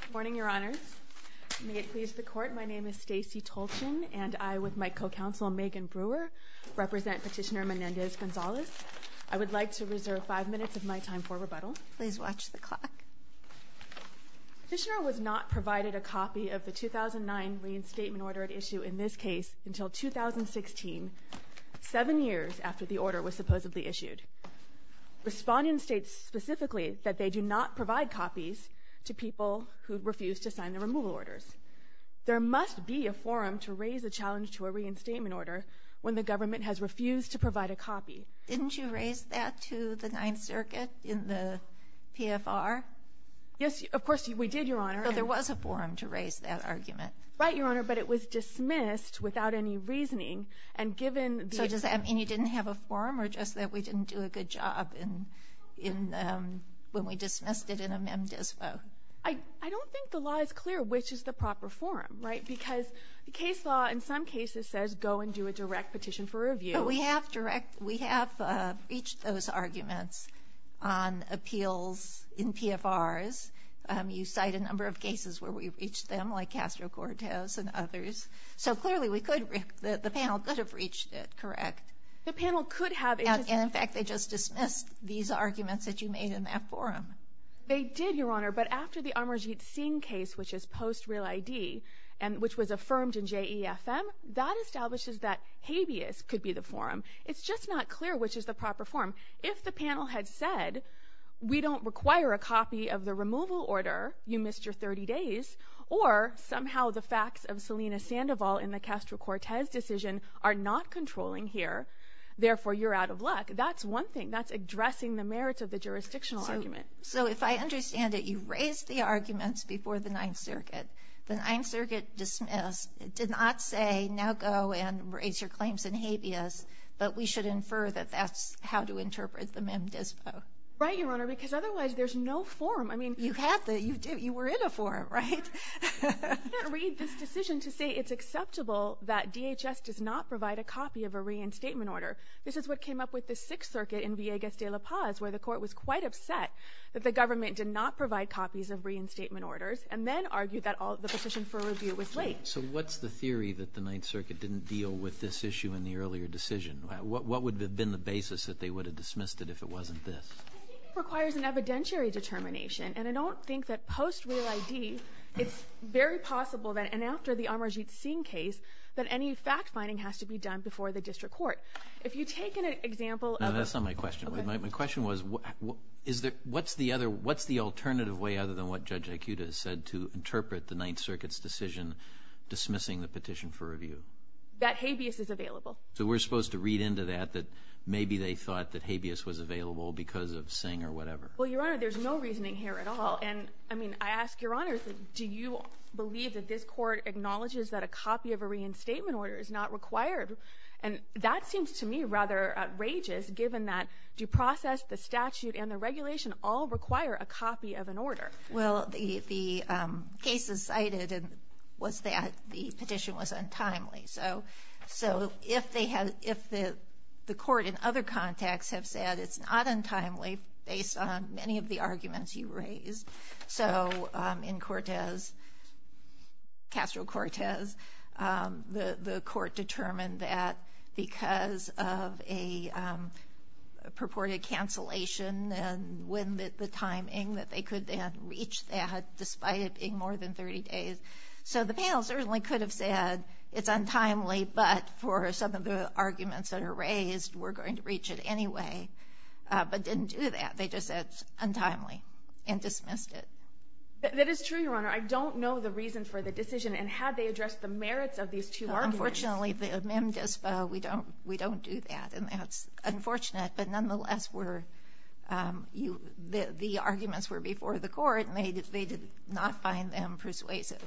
Good morning, Your Honors. May it please the Court, my name is Stacey Tolchin and I, with my co-counsel Megan Brewer, represent Petitioner Menendez-Gonzalez. I would like to reserve five minutes of my time for rebuttal. Please watch the clock. Petitioner was not provided a copy of the 2009 reinstatement order at issue in this case until 2016, seven years after the order was supposedly issued. Respondents state specifically that they do not provide copies to people who refuse to sign the removal orders. There must be a forum to raise a challenge to a reinstatement order when the government has refused to provide a copy. Didn't you raise that to the Ninth Circuit in the PFR? Yes, of course we did, Your Honor. But there was a forum to raise that argument. Right, Your Honor, but it was dismissed without any have a forum or just that we didn't do a good job when we dismissed it in a mem dispo? I don't think the law is clear which is the proper forum, right, because the case law in some cases says go and do a direct petition for review. But we have reached those arguments on appeals in PFRs. You cite a number of cases where we've reached them, like Castro-Cortez and others. So clearly we could, the panel could have reached it, correct? The panel could have, and in fact they just dismissed these arguments that you made in that forum. They did, Your Honor, but after the Amarjeet Singh case, which is post-real ID, which was affirmed in JEFM, that establishes that habeas could be the forum. It's just not clear which is the proper forum. If the panel had said we don't require a copy of the removal order, you missed your 30 days, or somehow the facts of Selena Sandoval in the Castro-Cortez decision are not controlling here, therefore you're out of luck, that's one thing. That's addressing the merits of the jurisdictional argument. So if I understand it, you raised the arguments before the Ninth Circuit. The Ninth Circuit dismissed, did not say now go and raise your claims in habeas, but we should infer that that's how to interpret the mem dispo. Right, Your Honor, because otherwise there's no forum. I mean, you were in a forum, right? I didn't read this decision to say it's acceptable that DHS does not provide a copy of a reinstatement order. This is what came up with the Sixth Circuit in Villegas de La Paz, where the court was quite upset that the government did not provide copies of reinstatement orders, and then argued that the petition for review was late. So what's the theory that the Ninth Circuit didn't deal with this issue in the earlier decision? What would have been the basis that they would have dismissed it if it wasn't this? I think it requires an evidentiary determination, and I don't think that post Real ID it's very possible that, and after the Amarjeet Singh case, that any fact-finding has to be done before the district court. If you take an example of a No, that's not my question. My question was, is there, what's the other, what's the alternative way other than what Judge Aikuda said to interpret the Ninth Circuit's decision dismissing the petition for review? That habeas is available. So we're supposed to read into that that maybe they thought that habeas was available because of Singh or whatever. Well, Your Honor, there's no reasoning here at all. And I mean, I ask Your Honor, do you believe that this court acknowledges that a copy of a reinstatement order is not required? And that seems to me rather outrageous, given that due process, the statute, and the regulation all require a copy of an order. Well, the case is cited and was that the petition was untimely. So if they had, if the court in other contexts have said it's not untimely, based on many of the arguments you raised. So in Cortez, Castro-Cortez, the court determined that because of a purported cancellation and when the timing that they could then reach that, despite it being more than 30 days. So the panel certainly could have said it's untimely, but for some of the arguments that are raised, we're going to reach it anyway, but didn't do that. They just said it's untimely and dismissed it. That is true, Your Honor. I don't know the reason for the decision and how they address the merits of these two arguments. Unfortunately, the MIM-DISPO, we don't, we don't do that. And that's unfortunate, but the arguments were before the court and they did not find them persuasive.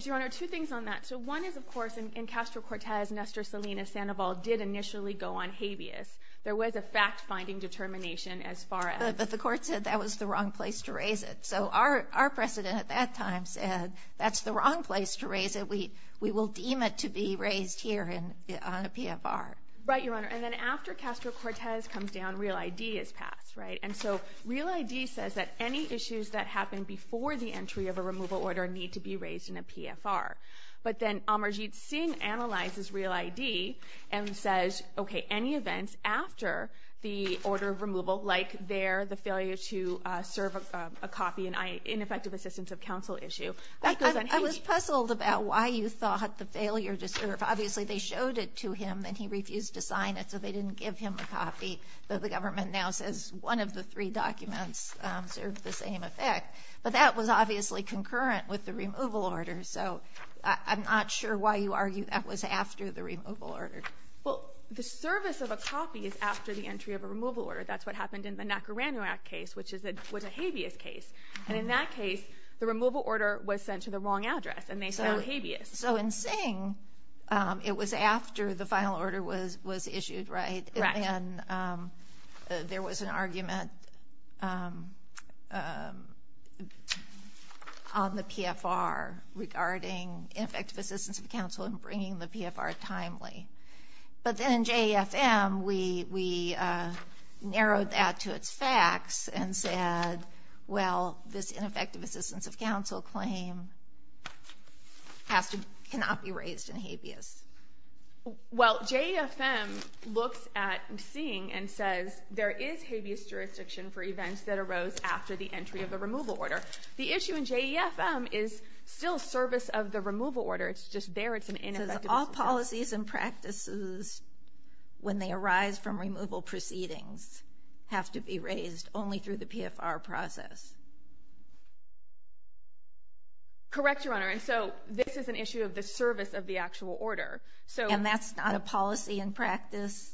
Your Honor, two things on that. So one is, of course, in Castro-Cortez, Nestor Salinas-Sandoval did initially go on habeas. There was a fact-finding determination as far as... But the court said that was the wrong place to raise it. So our president at that time said that's the wrong place to raise it. We will deem it to be raised here on a PFR. Right, Your Honor. And then after Castro-Cortez comes down, Real ID is passed, right? And so Real ID says that any issues that happen before the entry of a removal order need to be raised in a PFR. But then Amarjeet Singh analyzes Real ID and says, okay, any events after the order of removal, like there, the failure to serve a copy, an ineffective assistance of counsel issue, that goes unhinged. I was puzzled about why you thought the failure to serve. Obviously, they showed it to him and he refused to sign it, so they didn't give him a copy. But the government now says one of the three documents served the same effect. But that was obviously concurrent with the removal order. So I'm not sure why you argue that was after the removal order. Well, the service of a copy is after the entry of a removal order. That's what happened in the Nacaranu Act case, which was a habeas case. And in that case, the removal order was sent to the wrong address, and they said it was habeas. So in Singh, it was after the final order was issued, right? Right. And then there was an argument on the PFR regarding ineffective assistance of counsel and bringing the PFR timely. But then in JEFM, we narrowed that to its facts and said, well, this ineffective assistance of counsel claim cannot be raised in habeas. Well, JEFM looks at Singh and says there is habeas jurisdiction for events that arose after the entry of the removal order. The issue in JEFM is still service of the removal order. It's just there, it's an ineffective assistance of counsel. It says all policies and practices, when they arise from removal proceedings, have to be a PFR process. Correct, Your Honor. And so this is an issue of the service of the actual order. And that's not a policy and practice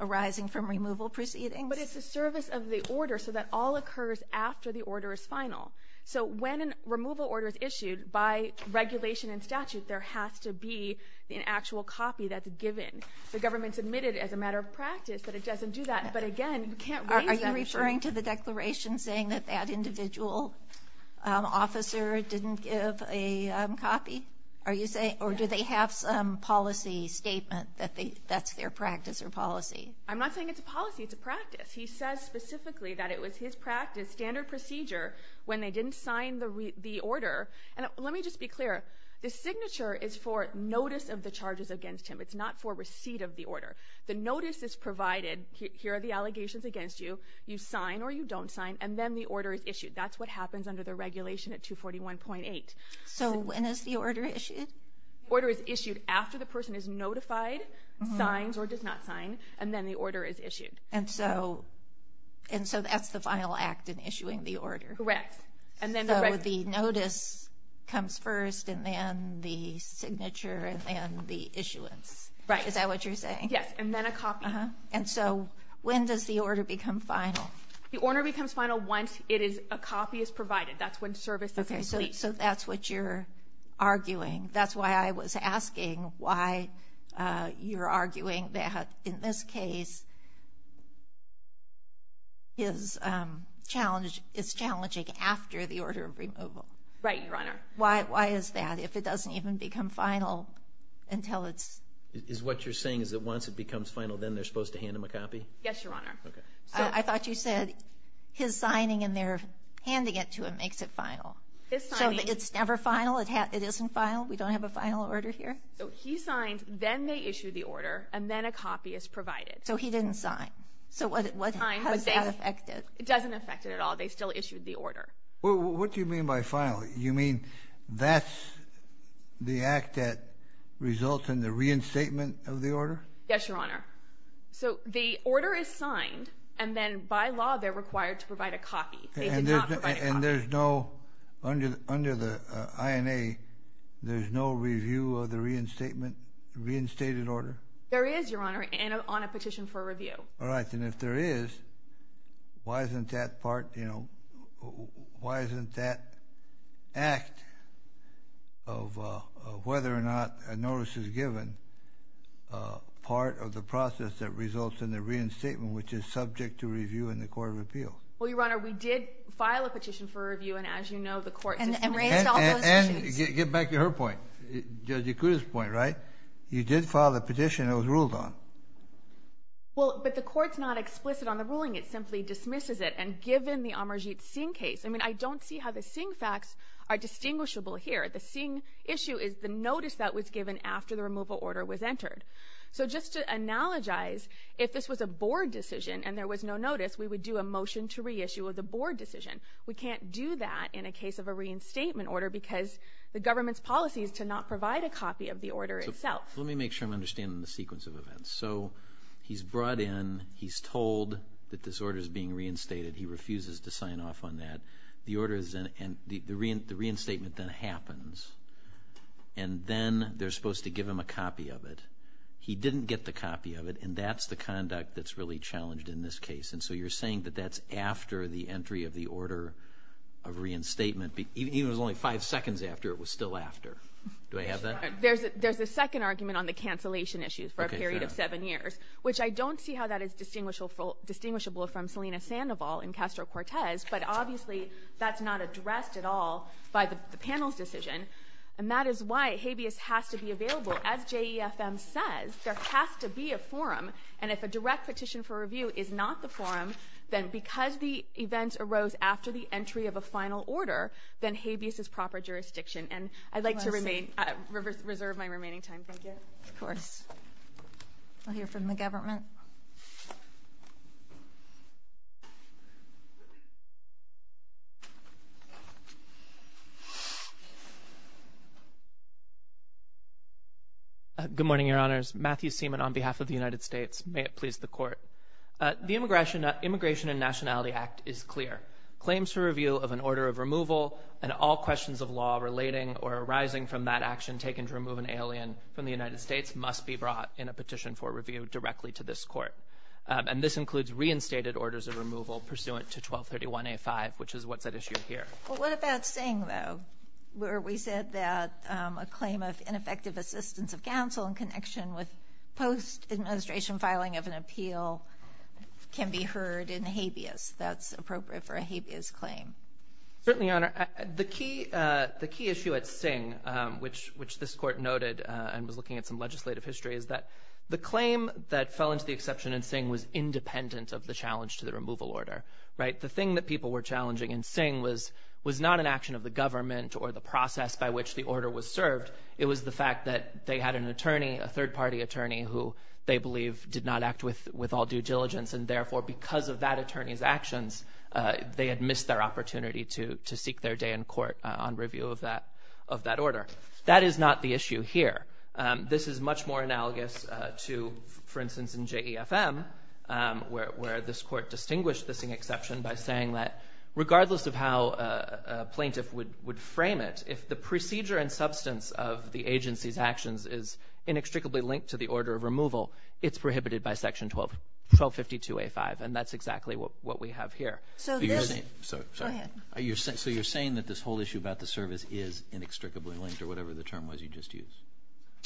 arising from removal proceedings? But it's the service of the order, so that all occurs after the order is final. So when a removal order is issued, by regulation and statute, there has to be an actual copy that's given. The government submitted it as a matter of practice, but it doesn't do that. But again, you can't raise that issue. Are you referring to the declaration saying that that individual officer didn't give a copy? Or do they have some policy statement that that's their practice or policy? I'm not saying it's a policy, it's a practice. He says specifically that it was his practice, standard procedure, when they didn't sign the order. And let me just be clear, the signature is for notice of the charges against him. It's not for receipt of the order. The notice is provided, here are the allegations against you. You sign or you don't sign, and then the order is issued. That's what happens under the regulation at 241.8. So when is the order issued? Order is issued after the person is notified, signs or does not sign, and then the order is issued. And so that's the final act in issuing the order? Correct. And then the notice comes first, and then the signature, and then the issuance. Is that what you're saying? Yes, and then a copy. And so when does the order become final? The order becomes final once a copy is provided. That's when service is complete. Okay, so that's what you're arguing. That's why I was asking why you're arguing that in this case, it's challenging after the order of removal. Right, Your Honor. Why is that? If it doesn't even become final until it's... Is what you're saying is that once it becomes final, then they're supposed to hand him a copy? Yes, Your Honor. I thought you said his signing and their handing it to him makes it final. His signing... It's never final? It isn't final? We don't have a final order here? So he signed, then they issued the order, and then a copy is provided. So he didn't sign. So how does that affect it? It doesn't affect it at all. They still issued the order. What do you mean by final? You mean that's the act that results in the reinstatement of the order? Yes, Your Honor. So the order is signed, and then by law they're required to provide a copy. They did not provide a copy. And there's no... Under the INA, there's no review of the reinstatement, reinstated order? There is, Your Honor, and on a petition for review. All right, and if there is, why isn't that part, you know, why isn't that act of whether or not a notice is given part of the process that results in the reinstatement, which is subject to review in the Court of Appeal? Well, Your Honor, we did file a petition for review, and as you know, the court... And raised all those issues. And get back to her point, Judge Ikuda's point, right? You did file the petition, it was ruled on. Well, but the court's not explicit on the ruling, it simply dismisses it, and given the Amarjeet Singh case, I mean, I don't see how the Singh facts are distinguishable here. The Singh issue is the notice that was given after the removal order was entered. So just to analogize, if this was a board decision and there was no notice, we would do a motion to reissue of the board decision. We can't do that in a case of a reinstatement order because the government's policy is to not provide a copy of the order itself. Let me make sure I'm understanding the sequence of events. So, he's brought in, he's told that this order's being reinstated, he refuses to sign off on that. The order's in, and the reinstatement then happens. And then they're supposed to give him a copy of it. He didn't get the copy of it, and that's the conduct that's really challenged in this case. And so you're saying that that's after the entry of the order of reinstatement, even if it was only five seconds after, it was still after. Do I have that? There's a second argument on the cancellation issues for a period of seven years, which I don't see how that is distinguishable from Selena Sandoval and Castro-Cortez, but obviously that's not addressed at all by the panel's decision. And that is why habeas has to be available. As JEFM says, there has to be a forum, and if a direct petition for review is not the forum, then because the event arose after the entry of a final order, then habeas is proper jurisdiction. And I'd like to reserve my remaining time. Thank you. Of course. I'll hear from the government. Good morning, Your Honors. Matthew Seaman on behalf of the United States. May it please the Court. The Immigration and Nationality Act is clear. Claims for review of an order of removal and all questions of law relating or arising from that action taken to remove an alien from the United States must be brought in a petition for review directly to this Court. And this includes reinstated orders of removal pursuant to 1231A5, which is what's at issue here. Well, what about Singh, though, where we said that a claim of ineffective assistance of counsel in connection with post-administration filing of an appeal can be heard in habeas? That's appropriate for a habeas claim. Certainly, Your Honor. The key issue at Singh, which this Court noted and was looking at some legislative history, is that the claim that fell into the exception in Singh was independent of the challenge to the removal order, right? The thing that people were challenging in Singh was not an action of the government or the process by which the order was served. It was the fact that they had an attorney, a third-party attorney, who they believe did not act with all due diligence and therefore because of that attorney's actions, they had missed their opportunity to seek their day in court on review of that order. That is not the issue here. This is much more analogous to, for instance, in JEFM, where this Court distinguished the Singh exception by saying that regardless of how a plaintiff would frame it, if the procedure and substance of the case is inextricably linked to the order of removal, it's prohibited by Section 1252A5, and that's exactly what we have here. So you're saying that this whole issue about the service is inextricably linked or whatever the term was you just used?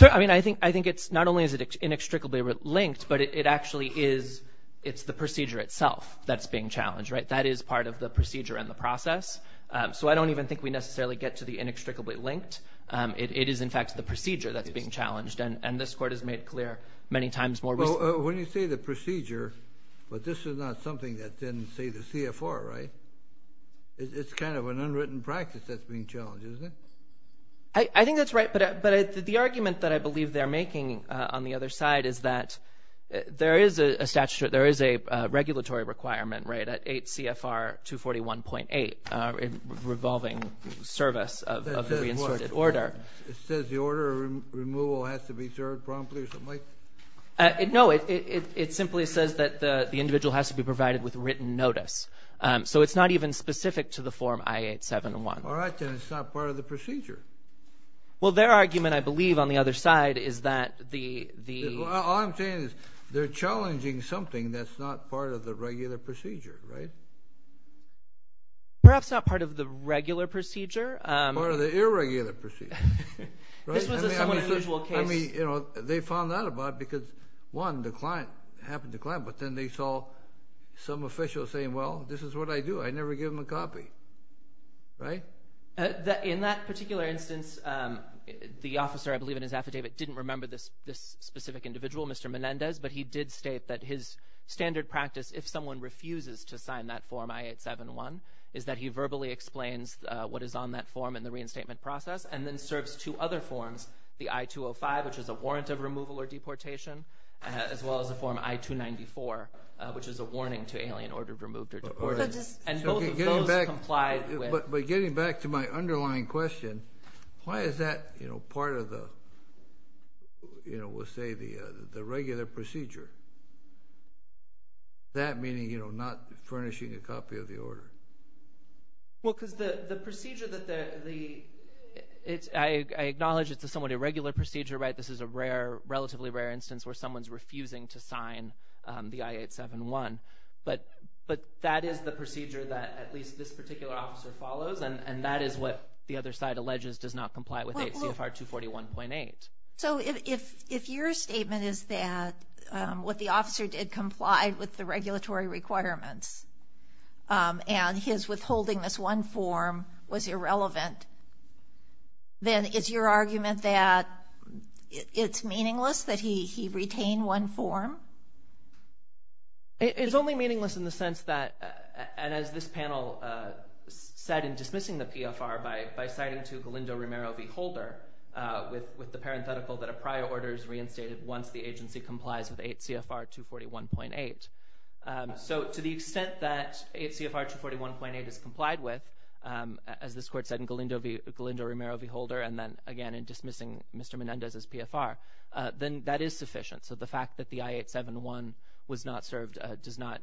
I mean, I think it's not only is it inextricably linked, but it actually is, it's the procedure itself that's being challenged, right? That is part of the procedure and the process. So I don't even think we necessarily get to the inextricably linked. It is, in fact, the procedure that's being challenged, and this Court has made clear many times more recently. Well, when you say the procedure, but this is not something that didn't say the CFR, right? It's kind of an unwritten practice that's being challenged, isn't it? I think that's right, but the argument that I believe they're making on the other side is that there is a statutory, there is a regulatory requirement, right, at 8 CFR 241.8, revolving service of the reinserted order. It says the order removal has to be served promptly or something like that? No, it simply says that the individual has to be provided with written notice. So it's not even specific to the form I-871. All right, then it's not part of the procedure. Well, their argument, I believe, on the other side is that the... All I'm saying is they're challenging something that's not part of the regular procedure, right? Perhaps not part of the regular procedure. Part of the irregular procedure. This was a somewhat unusual case. I mean, you know, they found out about it because, one, the client, it happened to the client, but then they saw some official saying, well, this is what I do. I never give them a copy, right? In that particular instance, the officer, I believe in his affidavit, didn't remember this specific individual, Mr. Menendez, but he did state that his standard practice, if someone refuses to sign that form I-871, is that he verbally explains what is on that form in the reinstatement process and then serves two other forms, the I-205, which is a warrant of removal or deportation, as well as the form I-294, which is a warning to alien order removed or deported. And both of those complied with... But getting back to my underlying question, why is that, you know, part of the, you know, that meaning, you know, not furnishing a copy of the order? Well, because the procedure that the... I acknowledge it's a somewhat irregular procedure, right? This is a relatively rare instance where someone's refusing to sign the I-871. But that is the procedure that at least this particular officer follows, and that is what the other side alleges does not comply with CFR 241.8. So if your statement is that what the officer did complied with the regulatory requirements, and his withholding this one form was irrelevant, then is your argument that it's meaningless that he retained one form? It's only meaningless in the sense that, and as this panel said in dismissing the PFR by citing to Galindo-Romero v. Holder with the parenthetical that a prior order is reinstated once the agency complies with 8 CFR 241.8. So to the extent that 8 CFR 241.8 is complied with, as this court said in Galindo-Romero v. Holder, and then again in dismissing Mr. Menendez's PFR, then that is sufficient. So the fact that the I-871 was not served does not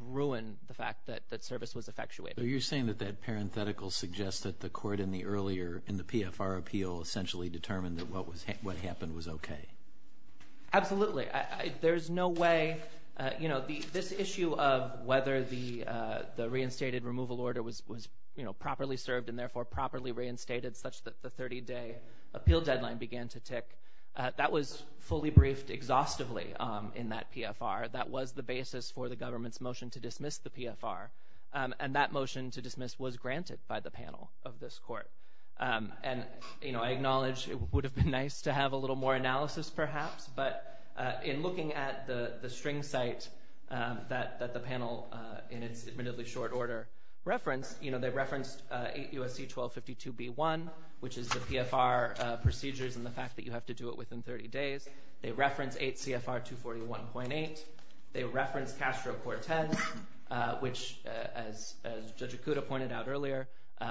ruin the fact that service was effectuated. So you're saying that that parenthetical suggests that the court in the earlier, in the PFR appeal essentially determined that what happened was okay? Absolutely. There's no way, you know, this issue of whether the reinstated removal order was properly served and therefore properly reinstated such that the 30-day appeal deadline began to tick, that was fully briefed exhaustively in that PFR. That was the basis for the government's motion to dismiss the PFR. And that motion to dismiss was granted by the panel of this court. And, you know, I acknowledge it would have been nice to have a little more analysis perhaps, but in looking at the string site that the panel in its admittedly short order referenced, you know, they referenced 8 U.S.C. 1252 B.1, which is the PFR procedures and the fact that you have to do it within 30 days. They referenced 8 CFR 241.8. They referenced Castro-Cortez, which as Judge Akuta pointed out earlier,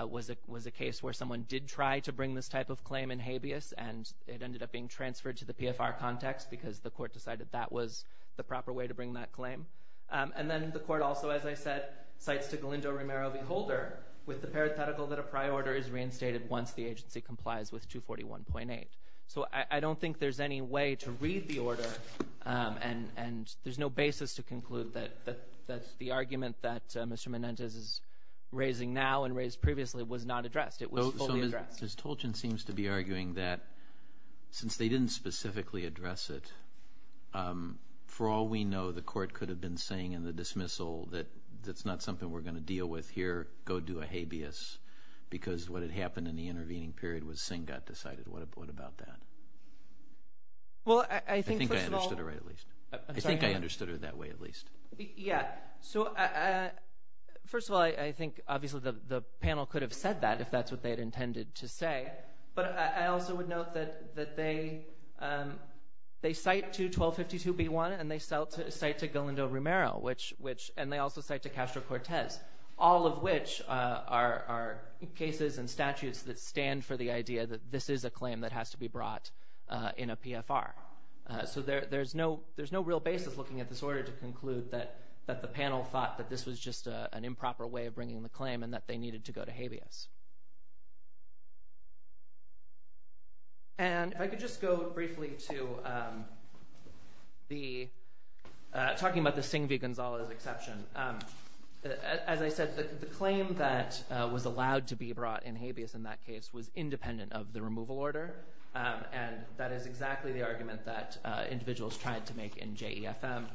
was a case where someone did try to bring this type of claim in habeas and it ended up being transferred to the PFR context because the court decided that was the proper way to bring that claim. And then the court also, as I said, cites to Galindo-Romero v. Holder with the parenthetical that a prior order is reinstated once the agency complies with 241.8. So I don't think there's any way to read the order and there's no basis to conclude that the argument that Mr. Menendez is raising now and raised previously was not addressed. It was fully addressed. So Ms. Tolchin seems to be arguing that since they didn't specifically address it, for all we know, the court could have been saying in the dismissal that that's not something we're going to deal with here, go do a habeas, because what had happened in the intervening period was Singh got decided. What about that? I think I understood her that way at least. Yeah. So first of all, I think obviously the panel could have said that if that's what they had intended to say. But I also would note that they cite to 1252b1 and they cite to Galindo-Romero and they also cite to Castro-Cortez, all of which are cases and statutes that stand for the idea that this is a claim that has to be brought in a PFR. So there's no real basis looking at this order to conclude that the panel thought that this was just an improper way of bringing the claim and that they needed to go to habeas. And if I could just go briefly to talking about the Singh v. Gonzalez exception. As I said, the claim that was allowed to be brought in habeas in that case was independent of the removal order. And that is exactly the argument that individuals tried to make in JEFM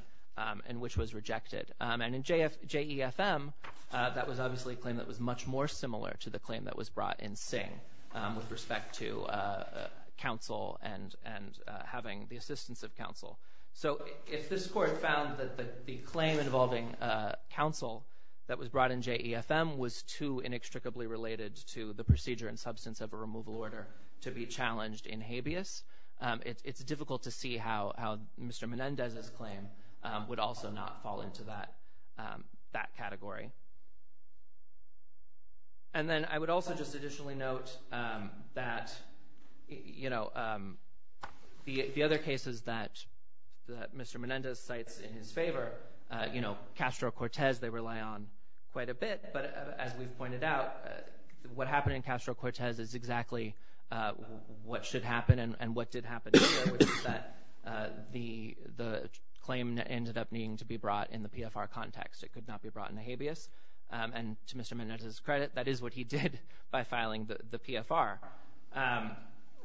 and which was rejected. And in JEFM, that was obviously a claim that was much more similar to the claim that was brought in Singh with respect to counsel and having the assistance of counsel. So if this court found that the claim involving counsel that was brought in JEFM was too inextricably related to the procedure and substance of a removal order to be challenged in habeas, it's difficult to see how Mr. Menendez's claim would also not fall into that category. And then I would also just additionally note that the other cases that Mr. Menendez cites in his favor, Castro-Cortez they rely on quite a bit. But as we've pointed out, what happened in Castro-Cortez is exactly what should happen and what did happen here, which is that the case, and to Mr. Menendez's credit, that is what he did by filing the PFR.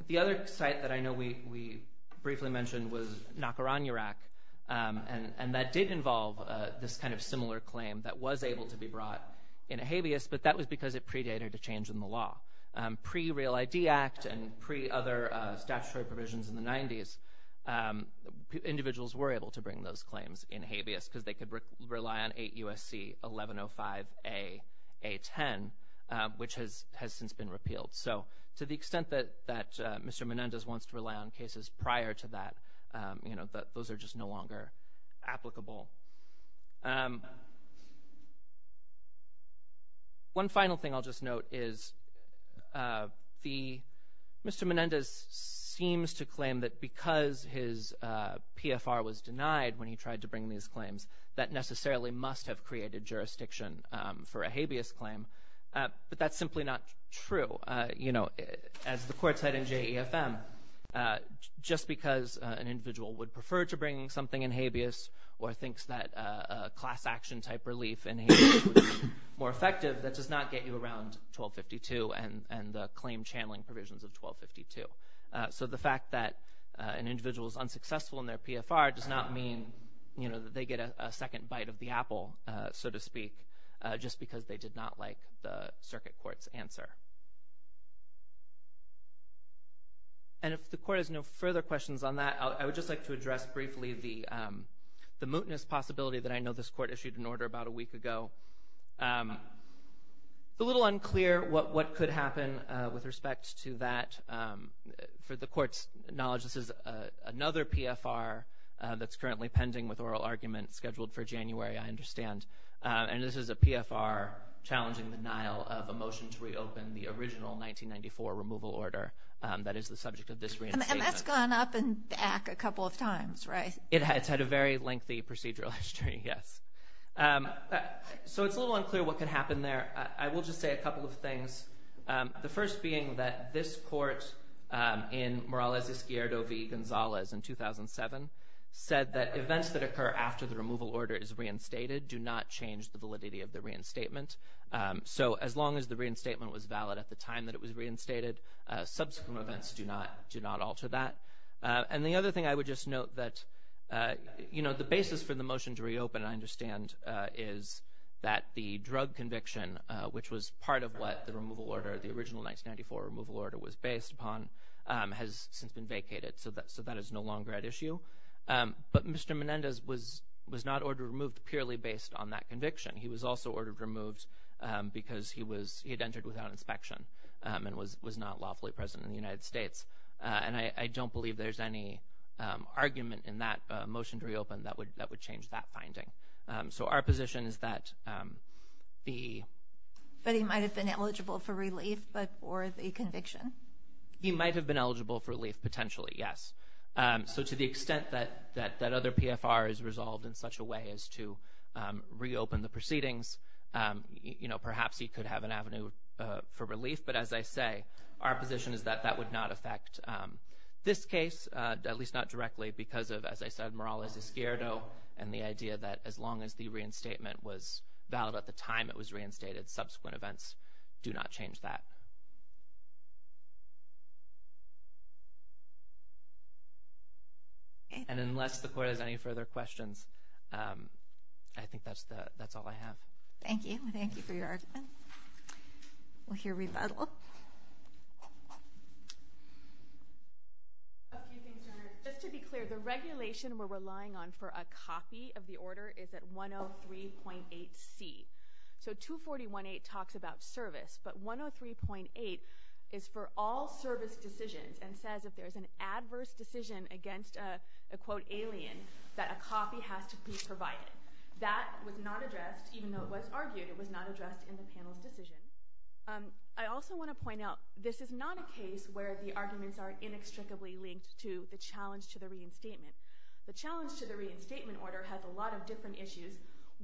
The other site that I know we briefly mentioned was Nacaranyarac, and that did involve this kind of similar claim that was able to be brought in habeas, but that was because it predated a change in the law. Pre-Real ID Act and pre-other statutory provisions in the 90s, individuals were able to bring those claims in habeas because they could rely on 8 U.S.C. 1105A.A.10, which has since been repealed. So to the extent that Mr. Menendez wants to rely on cases prior to that, those are just no longer applicable. One final thing I'll just note is Mr. Menendez seems to claim that because his PFR was denied when he tried to bring these claims, that necessarily must have created jurisdiction for a habeas claim, but that's simply not true. As the court said in JEFM, just because an individual would prefer to bring something in habeas or thinks that a class action type relief in habeas would be more effective, that does not get you around 1252 and the claim channeling provisions of 1252. So the fact that an individual is unsuccessful in their PFR does not mean that they get a second bite of the apple, so to speak, just because they did not like the circuit court's answer. And if the court has no further questions on that, I would just like to address briefly the mootness possibility that I know this court issued an order about a week ago. It's a little unclear what could happen with respect to that. For the court's knowledge, this is another PFR that's currently pending with oral argument scheduled for January, I understand, and this is a PFR challenging the denial of a motion to reopen the original 1994 removal order. And that's gone up and back a couple of times, right? It's had a very lengthy procedural history, yes. So it's a little unclear what could happen there. I will just say a couple of things. The first being that this court in Morales-Izquierdo v. Gonzalez in 2007 said that events that occur after the removal order is reinstated do not change the validity of the reinstatement. So as long as the reinstatement was valid at the time that it was reinstated, subsequent events do not alter that. And the other thing I would just note that, you know, the basis for the motion to reopen, I understand, is that the drug conviction, which was part of what the removal order, the original 1994 removal order was based upon, has since been vacated. So that is no longer at issue. But Mr. Menendez was not ordered removed purely based on that conviction. He was also ordered removed because he had entered without inspection and was not lawfully present in the United States. And I don't believe there's any argument in that motion to reopen that would change that finding. So our position is that the... But he might have been eligible for relief before the conviction? He might have been eligible for relief, potentially, yes. So to the extent that that other PFR is resolved in such a way as to reopen the proceedings, you know, as I say, our position is that that would not affect this case, at least not directly, because of, as I said, Morales-Escuerdo and the idea that as long as the reinstatement was valid at the time it was reinstated, subsequent events do not change that. And unless the Court has any further questions, I think that's all I have. Thank you. Thank you for your argument. We'll hear rebuttal. A few things, Your Honor. Just to be clear, the regulation we're relying on for a copy of the order is at 103.8C. So 241.8 talks about service, but 103.8 is for all service decisions and says if there's an adverse decision against a, quote, alien, that a copy has to be provided. That was not addressed, even though it was argued, it was not addressed in the panel's decision. I also want to point out, this is not a case where the arguments are inextricably linked to the challenge to the reinstatement. The challenge to the reinstatement order has a lot of different issues,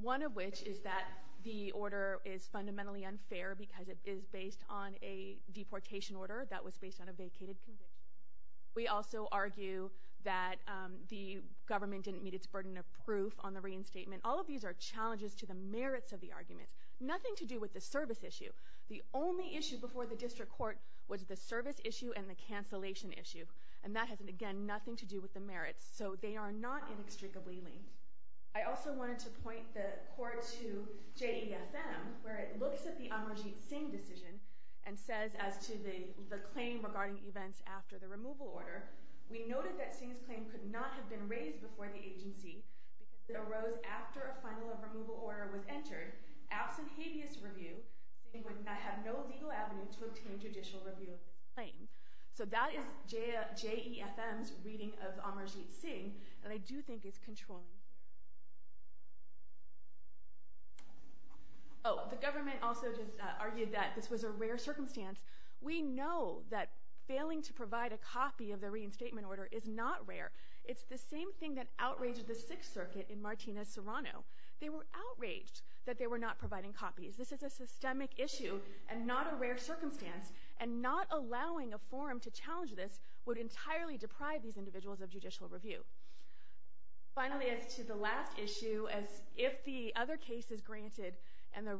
one of which is that the order is fundamentally unfair because it is based on a deportation order that was based on a vacated condition. We also argue that the government didn't meet its burden of proof on the reinstatement. All of these are challenges to the merits of the argument, nothing to do with the service issue. The only issue before the District Court was the service issue and the cancellation issue, and that has, again, nothing to do with the merits. So they are not inextricably linked. I also wanted to point the Court to JEFM, where it looks at the Amarjeet Singh decision and says as to the claim regarding events after the removal order, we noted that Singh's claim could not have been raised before the agency. It arose after a final removal order was entered, absent habeas review, and would not have no legal avenue to obtain judicial review. So that is JEFM's reading of Amarjeet Singh, and I do think it's controlled. Oh, the government also just argued that this was a rare circumstance. We know that failing to provide a copy of the reinstatement order is not rare. It's the same thing that outraged the Sixth Circuit in Martina Serrano. They were outraged that they were not providing copies. This is a systemic issue and not a rare circumstance, and not allowing a forum to challenge this would entirely deprive these individuals of judicial review. Finally, as to the last issue, if the other case is granted and the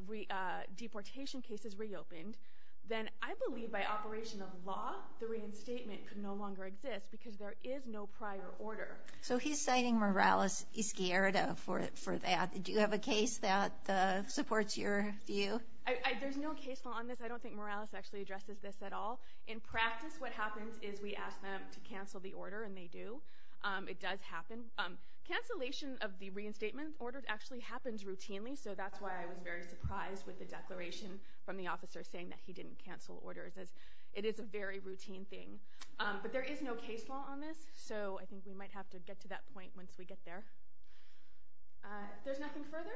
deportation case is reopened, then I believe by operation of law, the reinstatement could no longer exist because there is no prior order. So he's citing Morales-Izquierdo for that. Do you have a case that supports your view? There's no case law on this. I don't think Morales actually addresses this at all. In practice, what happens is we ask them to cancel the order, and they do. It does happen. Cancellation of the reinstatement order actually happens routinely, so that's why I was very surprised with the declaration from the officer saying that he didn't cancel orders. It is a very routine thing. But there is no case law on this, so I think we might have to get to that point once we get there. If there's nothing further,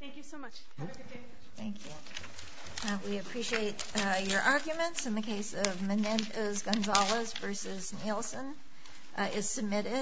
thank you so much. Have a good day. Thank you. We appreciate your arguments in the case of Menendez-Gonzalez versus Nielsen. It's submitted.